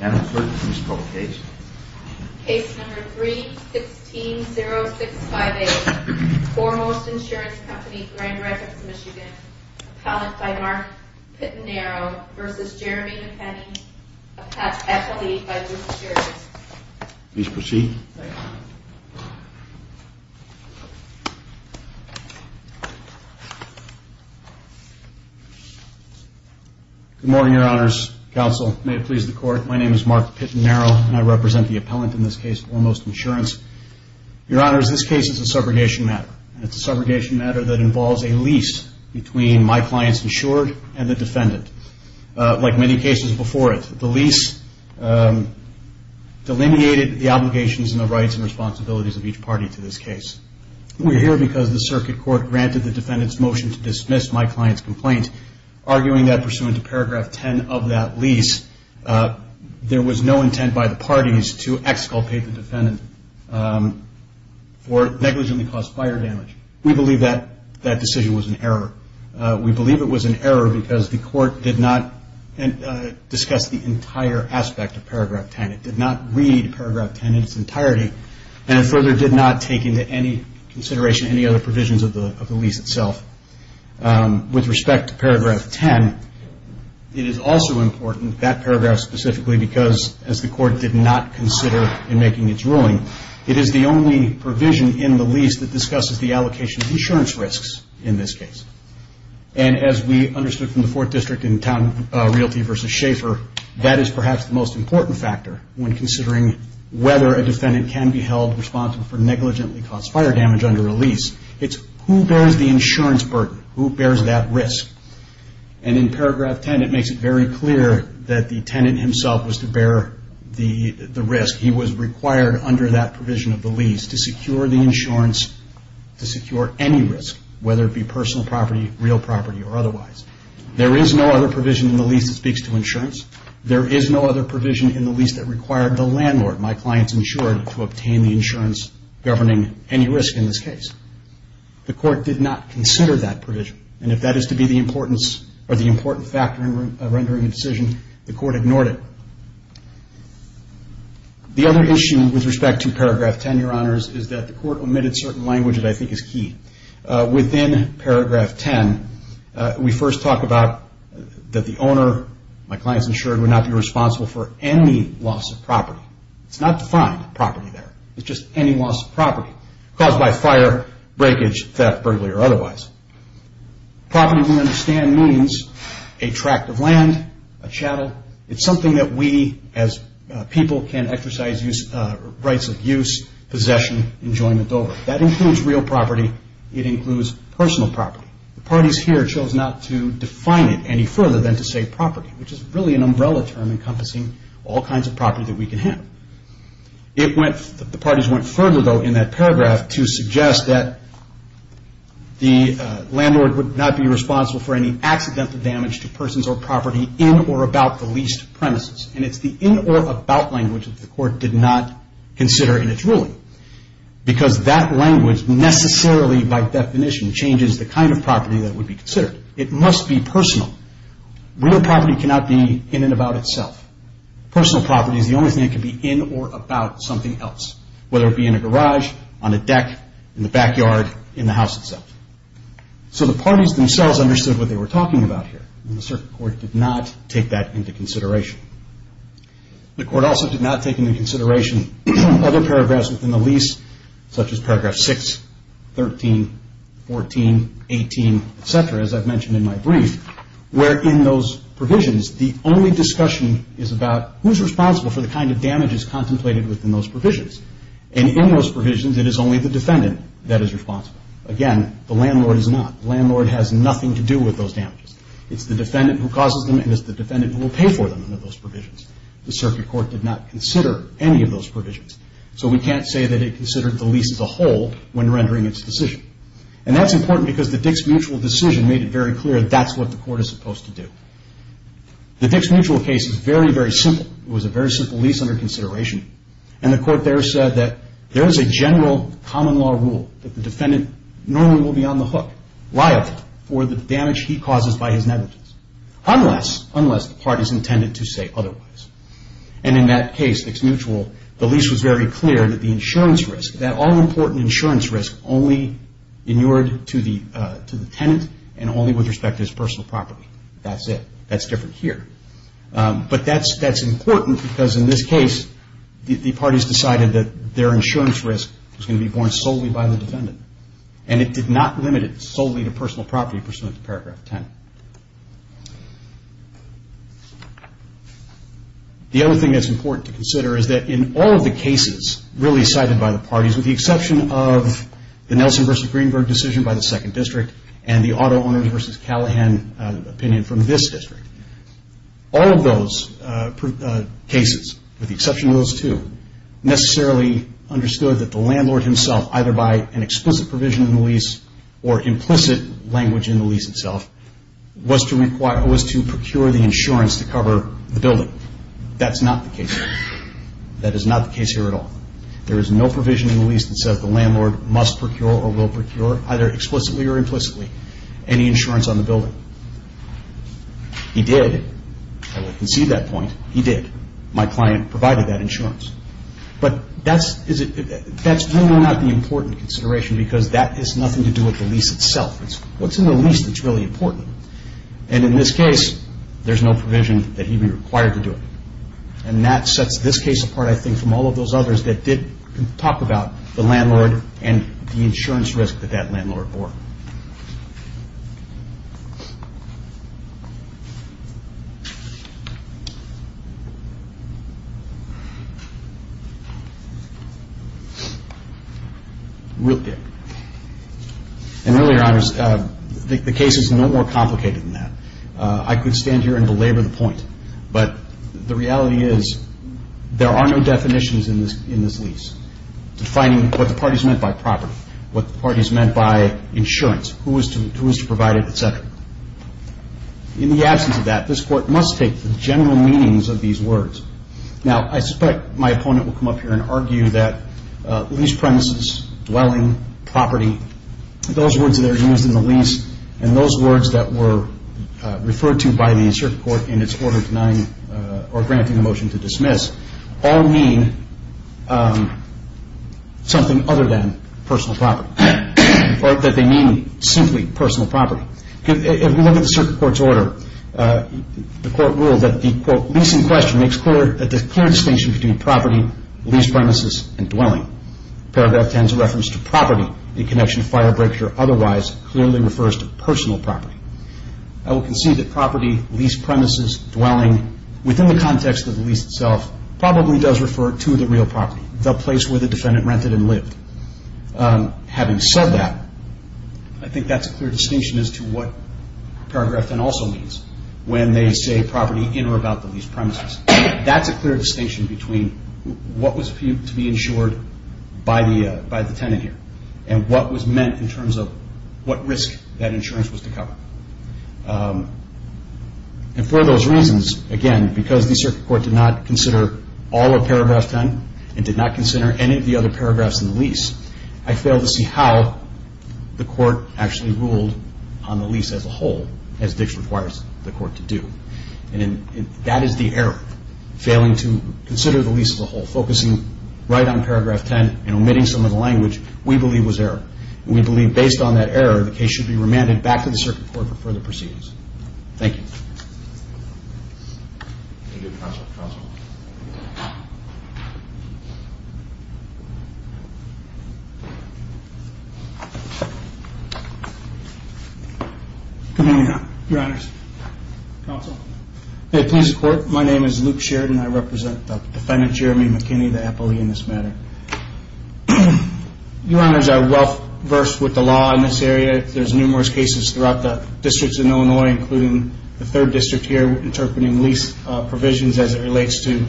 Madam Clerk, please call the case. Case number 3-16-0658, Foremost Insurance Company Grand Rapids Michigan, appellant by Mark Pittenarrow v. Jeremy McKinney, appellee by Mr. Sheridan. Good morning, Your Honors. Counsel, may it please the Court, my name is Mark Pittenarrow and I represent the appellant in this case, Foremost Insurance. Your Honors, this case is a subrogation matter. It's a subrogation matter that involves a lease between my client's insured and the defendant. Like many cases before it, the lease delineated the obligations and the rights and responsibilities of each party to this case. We're here because the circuit court granted the defendant's motion to dismiss my client's complaint, arguing that pursuant to paragraph 10 of that lease, there was no intent by the parties to exculpate the defendant for negligently caused fire damage. We believe that decision was an error. We believe it was an error because the court did not discuss the entire aspect of paragraph 10. It did not read paragraph 10 in its entirety and further did not take into any consideration any other provisions of the lease itself. With respect to paragraph 10, it is also important, that paragraph specifically, because as the court did not consider in making its ruling, it is the only provision in the lease that discusses the allocation of insurance risks in this case. And as we understood from the Fourth District in Town Realty v. Schaefer, that is perhaps the most important factor when considering whether a defendant can be held responsible for negligently caused fire damage under a lease. It's who bears the insurance burden? Who bears that risk? And in paragraph 10, it makes it very clear that the tenant himself was to bear the risk. He was required under that provision of the lease to secure the insurance, to secure any risk, whether it be personal property, real property, or otherwise. There is no other provision in the lease that speaks to insurance. There is no other provision in the lease that required the landlord, my client's insured, to obtain the insurance governing any risk in this case. The court did not consider that provision. And if that is to be the importance or the important factor in rendering a decision, the court ignored it. The other issue with respect to paragraph 10, Your Honors, is that the court omitted certain language that I think is key. Within paragraph 10, we first talk about that the owner, my client's insured, would not be responsible for any loss of property. It's not defined property there. It's just any loss of property caused by fire, breakage, theft, burglary, or otherwise. Property, we understand, means a tract of land, a chattel. It's something that we, as people, can exercise rights of use, possession, enjoyment over. That includes real property. It includes personal property. The parties here chose not to define it any further than to say property, which is really an umbrella term encompassing all kinds of property that we can have. The parties went further, though, in that paragraph to suggest that the landlord would not be responsible for any accidental damage to persons or property in or about the leased premises. It's the in or about language that the court did not consider in its ruling because that language necessarily, by definition, changes the kind of property that would be considered. It must be personal. Real property cannot be in and about itself. Personal property is the only thing that can be in or about something else, whether it be in a garage, on a deck, in the backyard, in the house itself. So the parties themselves understood what they were talking about here, and the circuit court did not take that into consideration. The court also did not take into consideration other paragraphs within the lease, such as paragraph 6, 13, 14, 18, etc., as I've mentioned in my brief, where in those provisions, the only discussion is about who's responsible for the kind of damages contemplated within those provisions. And in those provisions, it is only the defendant that is responsible. Again, the landlord is not. The landlord has nothing to do with those damages. It's the defendant who causes them, and it's the defendant who will pay for them under those provisions. The circuit court did not consider any of those provisions. So we can't say that it considered the lease as a whole when rendering its decision. And that's important because the Dix Mutual decision made it very clear that that's what the court is supposed to do. The Dix Mutual case is very, very simple. It was a very simple lease under consideration. And the court there said that there is a general common law rule that the defendant normally will be on the hook, liable, for the damage he causes by his negligence, unless the parties intended to say otherwise. And in that case, Dix Mutual, the lease was very clear that the insurance risk, that all-important insurance risk, only inured to the tenant and only with respect to his personal property. That's it. That's different here. But that's important because in this case, the parties decided that their insurance risk was going to be borne solely by the defendant. And it did not limit it solely to personal property pursuant to Paragraph 10. The other thing that's important to consider is that in all of the cases really cited by the parties, with the exception of the Nelson v. Greenberg decision by the Second District and the Auto Owners v. Callahan opinion from this district, all of those cases, with the exception of those two, necessarily understood that the landlord himself, either by an explicit provision in the lease or implicit language in the lease itself, was to procure the insurance to cover the building. That's not the case here. That is not the case here at all. There is no provision in the lease that says the landlord must procure or will procure, either explicitly or implicitly, any insurance on the building. He did. I will concede that point. He did. My client provided that insurance. But that's really not the important consideration because that has nothing to do with the lease itself. It's what's in the lease that's really important. And in this case, there's no provision that he be required to do it. And that sets this case apart, I think, from all of those others that did talk about the landlord and the insurance risk that that landlord bore. And really, Your Honors, the case is no more complicated than that. I could stand here and belabor the point, but the reality is there are no definitions in this lease, defining what the parties meant by property, what the parties meant by insurance, who was to provide it, et cetera. In the absence of that, this Court must take the general meanings of these words. Now, I suspect my opponent will come up here and argue that lease premises, dwelling, property, those words that are used in the lease and those words that were referred to by the circuit court in its order denying or granting a motion to dismiss all mean something other than personal property, or that they mean simply personal property. If we look at the circuit court's order, the court ruled that the, quote, lease in question makes clear that there's clear distinction between property, lease premises, and dwelling. Paragraph 10's reference to property in connection to firebreak or otherwise clearly refers to personal property. I will concede that property, lease premises, dwelling, within the context of the lease itself, probably does refer to the real property, the place where the defendant rented and lived. Having said that, I think that's a clear distinction as to what paragraph 10 also means when they say property in or about the lease premises. That's a clear distinction between what was to be insured by the tenant here and what was meant in terms of what risk that insurance was to cover. And for those reasons, again, because the circuit court did not consider all of paragraph 10 and did not consider any of the other paragraphs in the lease, I fail to see how the court actually ruled on the lease as a whole as Dix requires the court to do. And that is the error, failing to consider the lease as a whole, focusing right on paragraph 10 and omitting some of the language we believe was error. And we believe based on that error, the case should be remanded back to the circuit court for further proceedings. Thank you. Counsel. Good evening, Your Honors. Counsel. Hey, please report. My name is Luke Sheridan. I represent the defendant, Jeremy McKinney, the appellee in this matter. Your Honors, I'm well-versed with the law in this area. There's numerous cases throughout the districts in Illinois, including the third district here, interpreting lease provisions as it relates to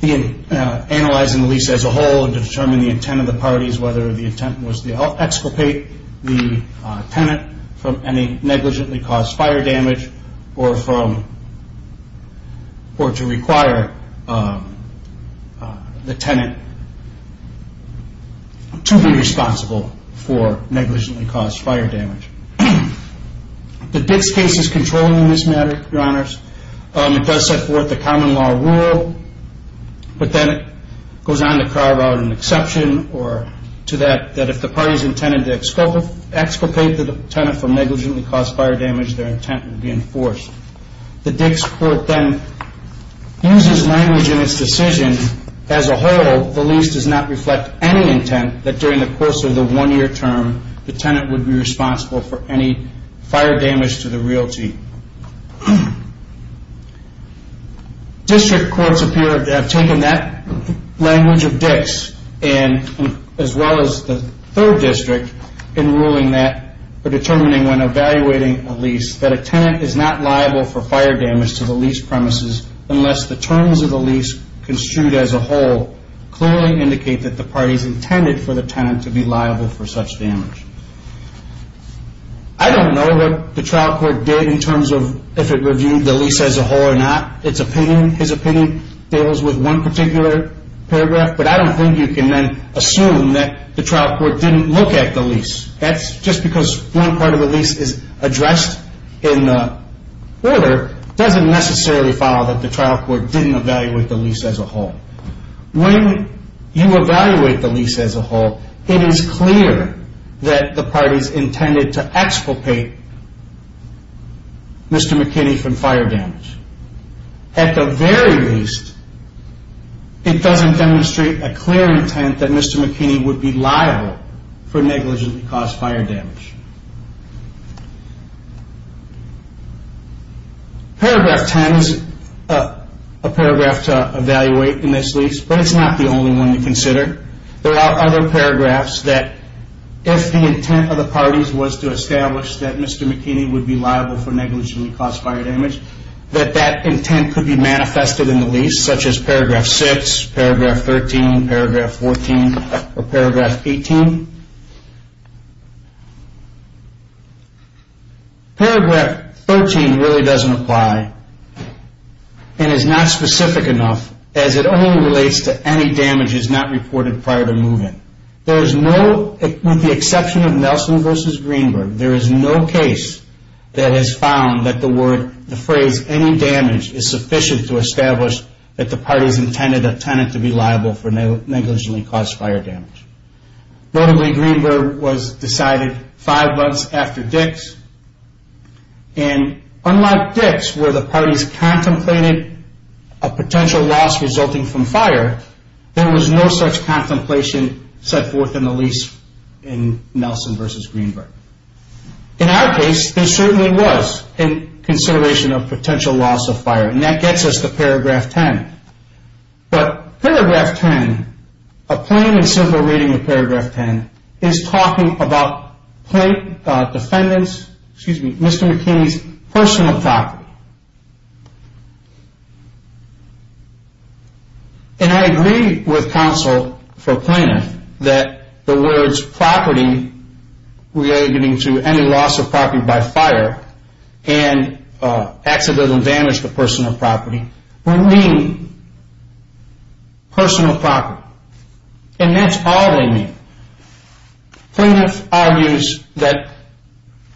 analyzing the lease as a whole and determining the intent of the parties, whether the intent was to exculpate the tenant from any negligently caused fire damage or to require the tenant to be responsible for negligently caused fire damage. The Dix case is controlling in this matter, Your Honors. It does set forth the common law rule, but then it goes on to carve out an exception or to that if the parties intended to exculpate the tenant from negligently caused fire damage, their intent would be enforced. The Dix court then uses language in its decision as a whole. The lease does not reflect any intent that during the course of the one-year term, the tenant would be responsible for any fire damage to the realty. District courts have taken that language of Dix, as well as the third district, in ruling that or determining when evaluating a lease that a tenant is not liable for fire damage to the lease premises unless the terms of the lease construed as a whole clearly indicate that the parties intended for the tenant to be liable for such damage. I don't know what the trial court did in terms of if it reviewed the lease as a whole or not. Its opinion, his opinion, deals with one particular paragraph, but I don't think you can then assume that the trial court didn't look at the lease. That's just because one part of the lease is addressed in the order, doesn't necessarily follow that the trial court didn't evaluate the lease as a whole. When you evaluate the lease as a whole, it is clear that the parties intended to exculpate Mr. McKinney from fire damage. At the very least, it doesn't demonstrate a clear intent that Mr. McKinney would be liable for negligently caused fire damage. Paragraph 10 is a paragraph to evaluate in this lease, but it's not the only one to consider. There are other paragraphs that if the intent of the parties was to establish that Mr. McKinney would be liable for negligently caused fire damage, such as paragraph 6, paragraph 13, paragraph 14, or paragraph 18. Paragraph 13 really doesn't apply and is not specific enough, as it only relates to any damages not reported prior to moving. With the exception of Nelson v. Greenberg, there is no case that has found that the phrase, any damage is sufficient to establish that the parties intended a tenant to be liable for negligently caused fire damage. Notably, Greenberg was decided five months after Dix. And unlike Dix, where the parties contemplated a potential loss resulting from fire, there was no such contemplation set forth in the lease in Nelson v. Greenberg. In our case, there certainly was a consideration of potential loss of fire, and that gets us to paragraph 10. But paragraph 10, a plain and simple reading of paragraph 10, is talking about Mr. McKinney's personal property. And I agree with counsel for Plaintiff that the words property, relating to any loss of property by fire, and accidental damage to personal property, will mean personal property. And that's all they mean. Plaintiff argues that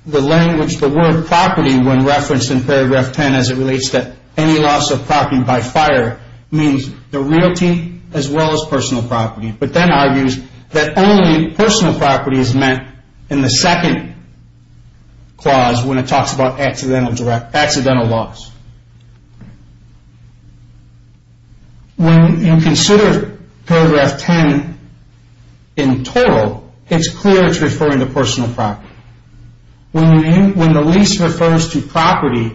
the language, the word property, when referenced in paragraph 10 as it relates to any loss of property by fire, means the realty as well as personal property, but then argues that only personal property is meant in the second clause when it talks about accidental loss. When you consider paragraph 10 in total, it's clear it's referring to personal property. When the lease refers to property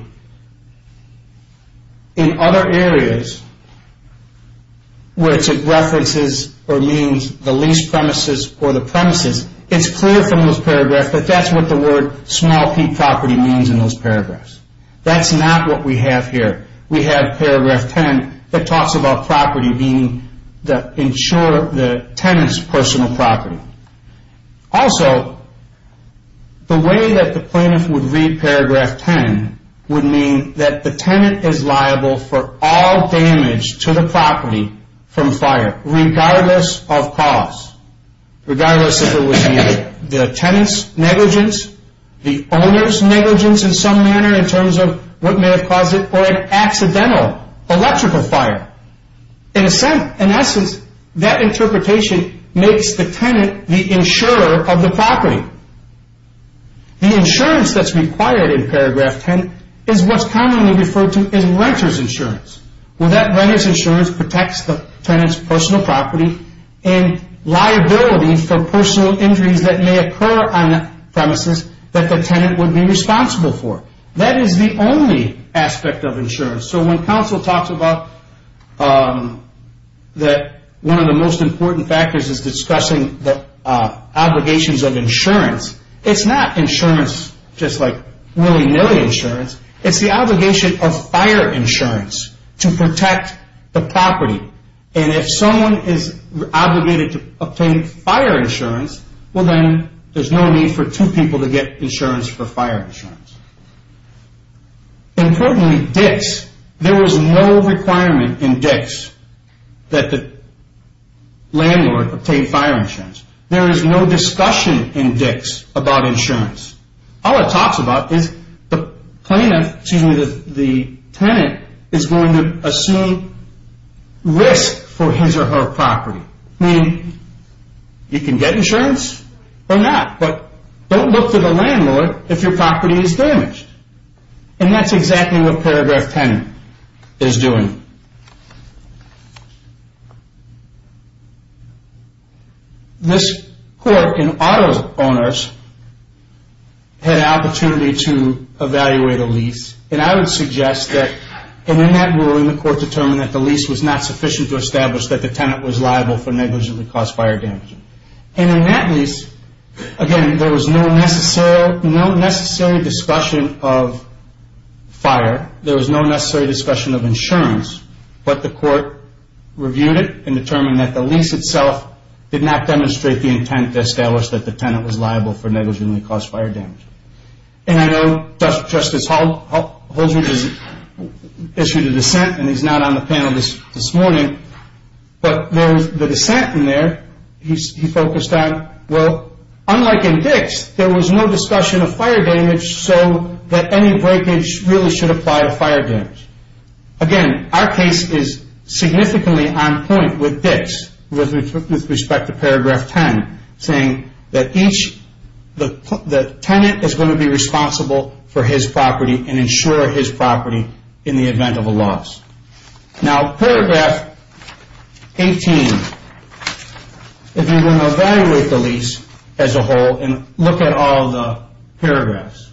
in other areas, where it's at references or means the lease premises or the premises, it's clear from those paragraphs that that's what the word small peak property means in those paragraphs. That's not what we have here. We have paragraph 10 that talks about property, meaning the insurer, the tenant's personal property. Also, the way that the plaintiff would read paragraph 10 would mean that the tenant is liable for all damage to the property from fire, regardless of cause, regardless if it was the tenant's negligence, the owner's negligence in some manner in terms of what may have caused it, or an accidental electrical fire. In essence, that interpretation makes the tenant the insurer of the property. The insurance that's required in paragraph 10 is what's commonly referred to as renter's insurance. Well, that renter's insurance protects the tenant's personal property and liability for personal injuries that may occur on the premises that the tenant would be responsible for. That is the only aspect of insurance. When counsel talks about that one of the most important factors is discussing the obligations of insurance, it's not insurance just like willy-nilly insurance. It's the obligation of fire insurance to protect the property. If someone is obligated to obtain fire insurance, then there's no need for two people to get insurance for fire insurance. Importantly, there is no requirement in DICS that the landlord obtain fire insurance. There is no discussion in DICS about insurance. All it talks about is the tenant is going to assume risk for his or her property. You can get insurance or not, but don't look for the landlord if your property is damaged. That's exactly what paragraph 10 is doing. This court in auto owners had an opportunity to evaluate a lease. I would suggest that in that ruling the court determined that the lease was not sufficient to establish that the tenant was liable for negligently caused fire damage. In that lease, again, there was no necessary discussion of fire. There was no necessary discussion of insurance, but the court reviewed it and determined that the lease itself did not demonstrate the intent to establish that the tenant was liable for negligently caused fire damage. I know Justice Holdren has issued a dissent, and he's not on the panel this morning, but the dissent in there he focused on, well, unlike in DICS, there was no discussion of fire damage so that any breakage really should apply to fire damage. Again, our case is significantly on point with DICS with respect to paragraph 10, saying that the tenant is going to be responsible for his property and insure his property in the event of a loss. Now, paragraph 18, if you're going to evaluate the lease as a whole and look at all the paragraphs,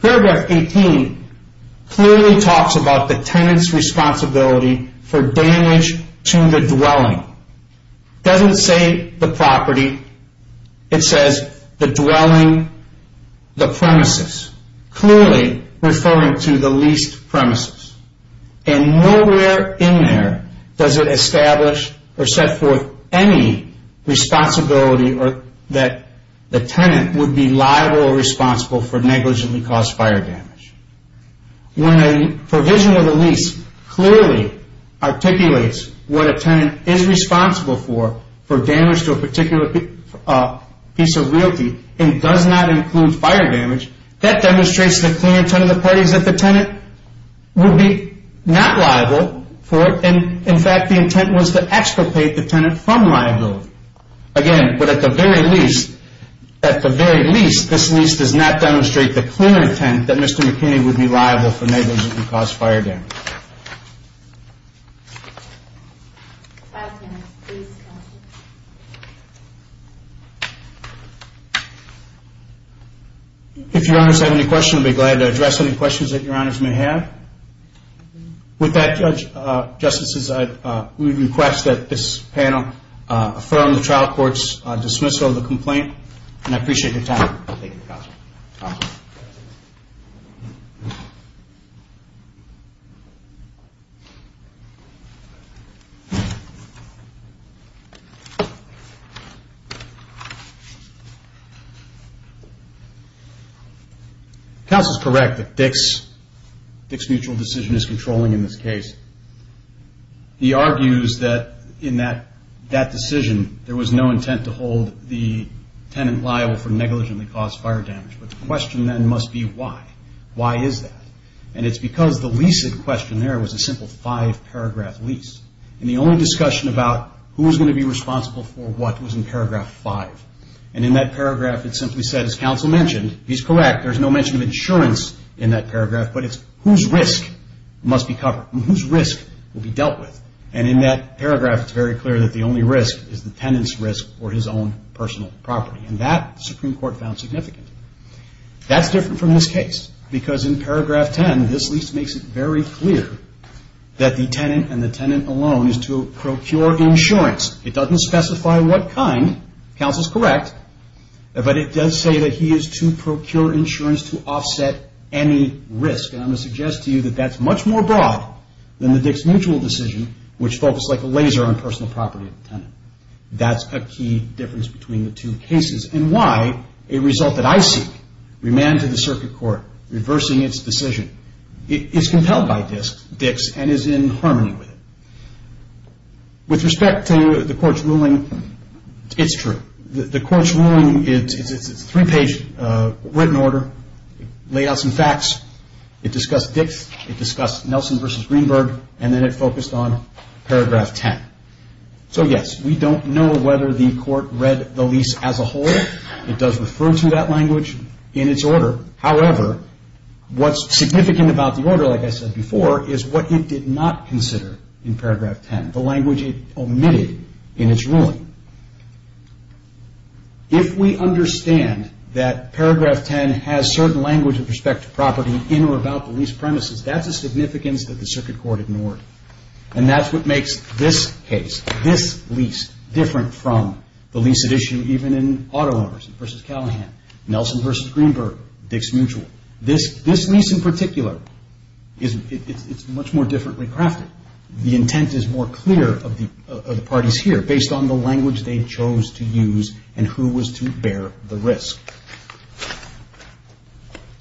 paragraph 18 clearly talks about the tenant's responsibility for damage to the dwelling. It doesn't say the property. It says the dwelling, the premises, clearly referring to the leased premises, and nowhere in there does it establish or set forth any responsibility that the tenant would be liable or responsible for negligently caused fire damage. When a provision of the lease clearly articulates what a tenant is responsible for, for damage to a particular piece of realty and does not include fire damage, that demonstrates the clear intent of the parties that the tenant would be not liable for it, and in fact the intent was to expropriate the tenant from liability. Again, but at the very least, at the very least, this lease does not demonstrate the clear intent that Mr. McKinney would be liable for negligently caused fire damage. If Your Honors have any questions, I'd be glad to address any questions that Your Honors may have. With that, Justices, we request that this panel affirm the trial court's dismissal of the complaint, and I appreciate your time. Thank you, Counsel. Counsel is correct that Dick's mutual decision is controlling in this case. He argues that in that decision there was no intent to hold the tenant liable for negligently caused fire damage, but the question then must be why. Why is that? And it's because the lease of the questionnaire was a simple five-paragraph lease, and the only discussion about who's going to be responsible for what was in paragraph five, and in that paragraph it simply said, as Counsel mentioned, he's correct, there's no mention of insurance in that paragraph, but it's whose risk must be covered, whose risk will be dealt with, and in that paragraph it's very clear that the only risk is the tenant's risk or his own personal property, and that the Supreme Court found significant. That's different from this case, because in paragraph ten, this lease makes it very clear that the tenant and the tenant alone is to procure insurance. It doesn't specify what kind, Counsel's correct, but it does say that he is to procure insurance to offset any risk, and I'm going to suggest to you that that's much more broad than the Dix mutual decision, which focused like a laser on personal property of the tenant. That's a key difference between the two cases, and why a result that I see, remanded to the circuit court, reversing its decision, is compelled by Dix and is in harmony with it. With respect to the Court's ruling, it's true. The Court's ruling is a three-page written order. It laid out some facts. It discussed Dix. It discussed Nelson v. Greenberg, and then it focused on paragraph ten. So, yes, we don't know whether the Court read the lease as a whole. It does refer to that language in its order. However, what's significant about the order, like I said before, is what it did not consider in paragraph ten, the language it omitted in its ruling. If we understand that paragraph ten has certain language with respect to property in or about the lease premises, that's a significance that the circuit court ignored, and that's what makes this case, this lease, different from the lease at issue even in auto owners v. Callahan, Nelson v. Greenberg, Dix mutual. This lease in particular, it's much more differently crafted. The intent is more clear of the parties here based on the language they chose to use and who was to bear the risk.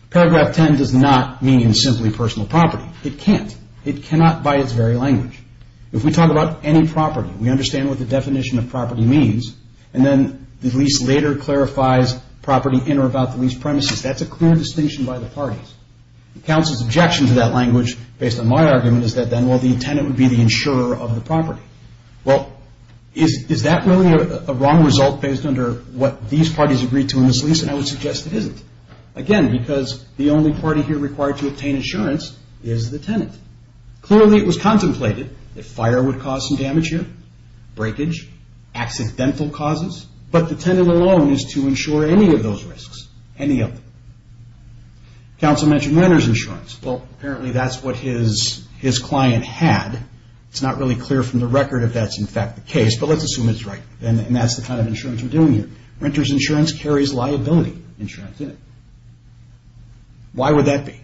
Paragraph ten does not mean simply personal property. It can't. It cannot by its very language. If we talk about any property, we understand what the definition of property means, and then the lease later clarifies property in or about the lease premises. That's a clear distinction by the parties. Counsel's objection to that language, based on my argument, is that then, well, the tenant would be the insurer of the property. Well, is that really a wrong result based on what these parties agreed to in this lease? And I would suggest it isn't. Again, because the only party here required to obtain insurance is the tenant. Clearly, it was contemplated that fire would cause some damage here, breakage, accidental causes, but the tenant alone is to insure any of those risks, any of them. Counsel mentioned renter's insurance. Well, apparently that's what his client had. It's not really clear from the record if that's in fact the case, but let's assume it's right, and that's the kind of insurance we're doing here. Renter's insurance carries liability insurance in it. Why would that be?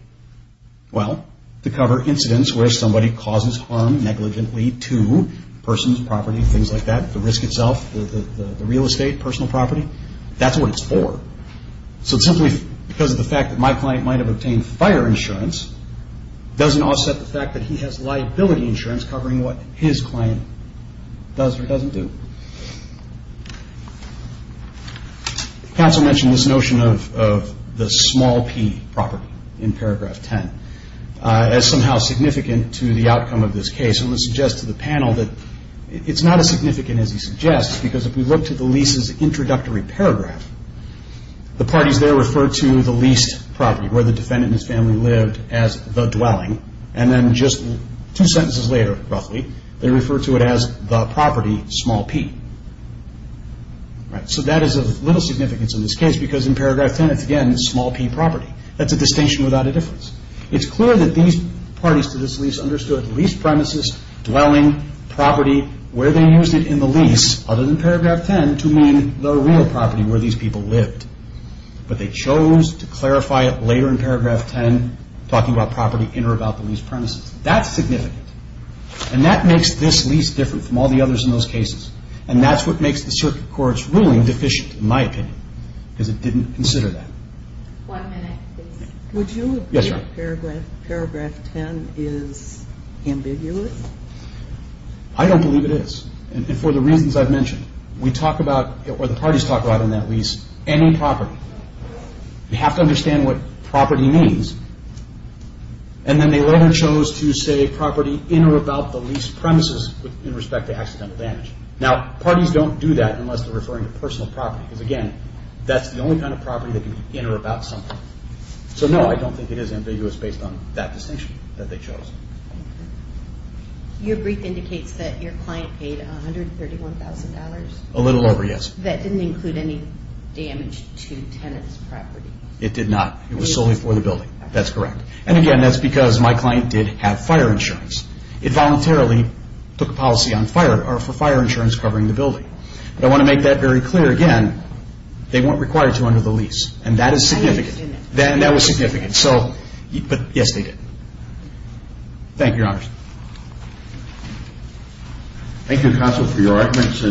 Well, to cover incidents where somebody causes harm negligently to a person's property, things like that, the risk itself, the real estate, personal property. That's what it's for. So simply because of the fact that my client might have obtained fire insurance doesn't offset the fact that he has liability insurance covering what his client does or doesn't do. Counsel mentioned this notion of the small P property in paragraph 10 as somehow significant to the outcome of this case. I'm going to suggest to the panel that it's not as significant as he suggests because if we look to the lease's introductory paragraph, the parties there refer to the leased property where the defendant and his family lived as the dwelling, and then just two sentences later, roughly, they refer to it as the property, small P. So that is of little significance in this case because in paragraph 10 it's again small P property. That's a distinction without a difference. It's clear that these parties to this lease understood lease premises, dwelling, property, where they used it in the lease other than paragraph 10 to mean the real property where these people lived. But they chose to clarify it later in paragraph 10, talking about property in or about the lease premises. That's significant, and that makes this lease different from all the others in those cases, and that's what makes the circuit court's ruling deficient, in my opinion, because it didn't consider that. One minute, please. Would you agree that paragraph 10 is ambiguous? I don't believe it is, and for the reasons I've mentioned. We talk about, or the parties talk about in that lease, any property. You have to understand what property means, and then they later chose to say property in or about the lease premises in respect to accidental damage. Now, parties don't do that unless they're referring to personal property because again, that's the only kind of property that can be in or about something. So no, I don't think it is ambiguous based on that distinction that they chose. Your brief indicates that your client paid $131,000. A little over, yes. That didn't include any damage to tenants' property. It did not. It was solely for the building. That's correct. And again, that's because my client did have fire insurance. It voluntarily took a policy on fire or for fire insurance covering the building. I want to make that very clear again. They weren't required to under the lease, and that is significant. That was significant. But yes, they did. Thank you, Your Honor. Thank you, Counsel, for your arguments.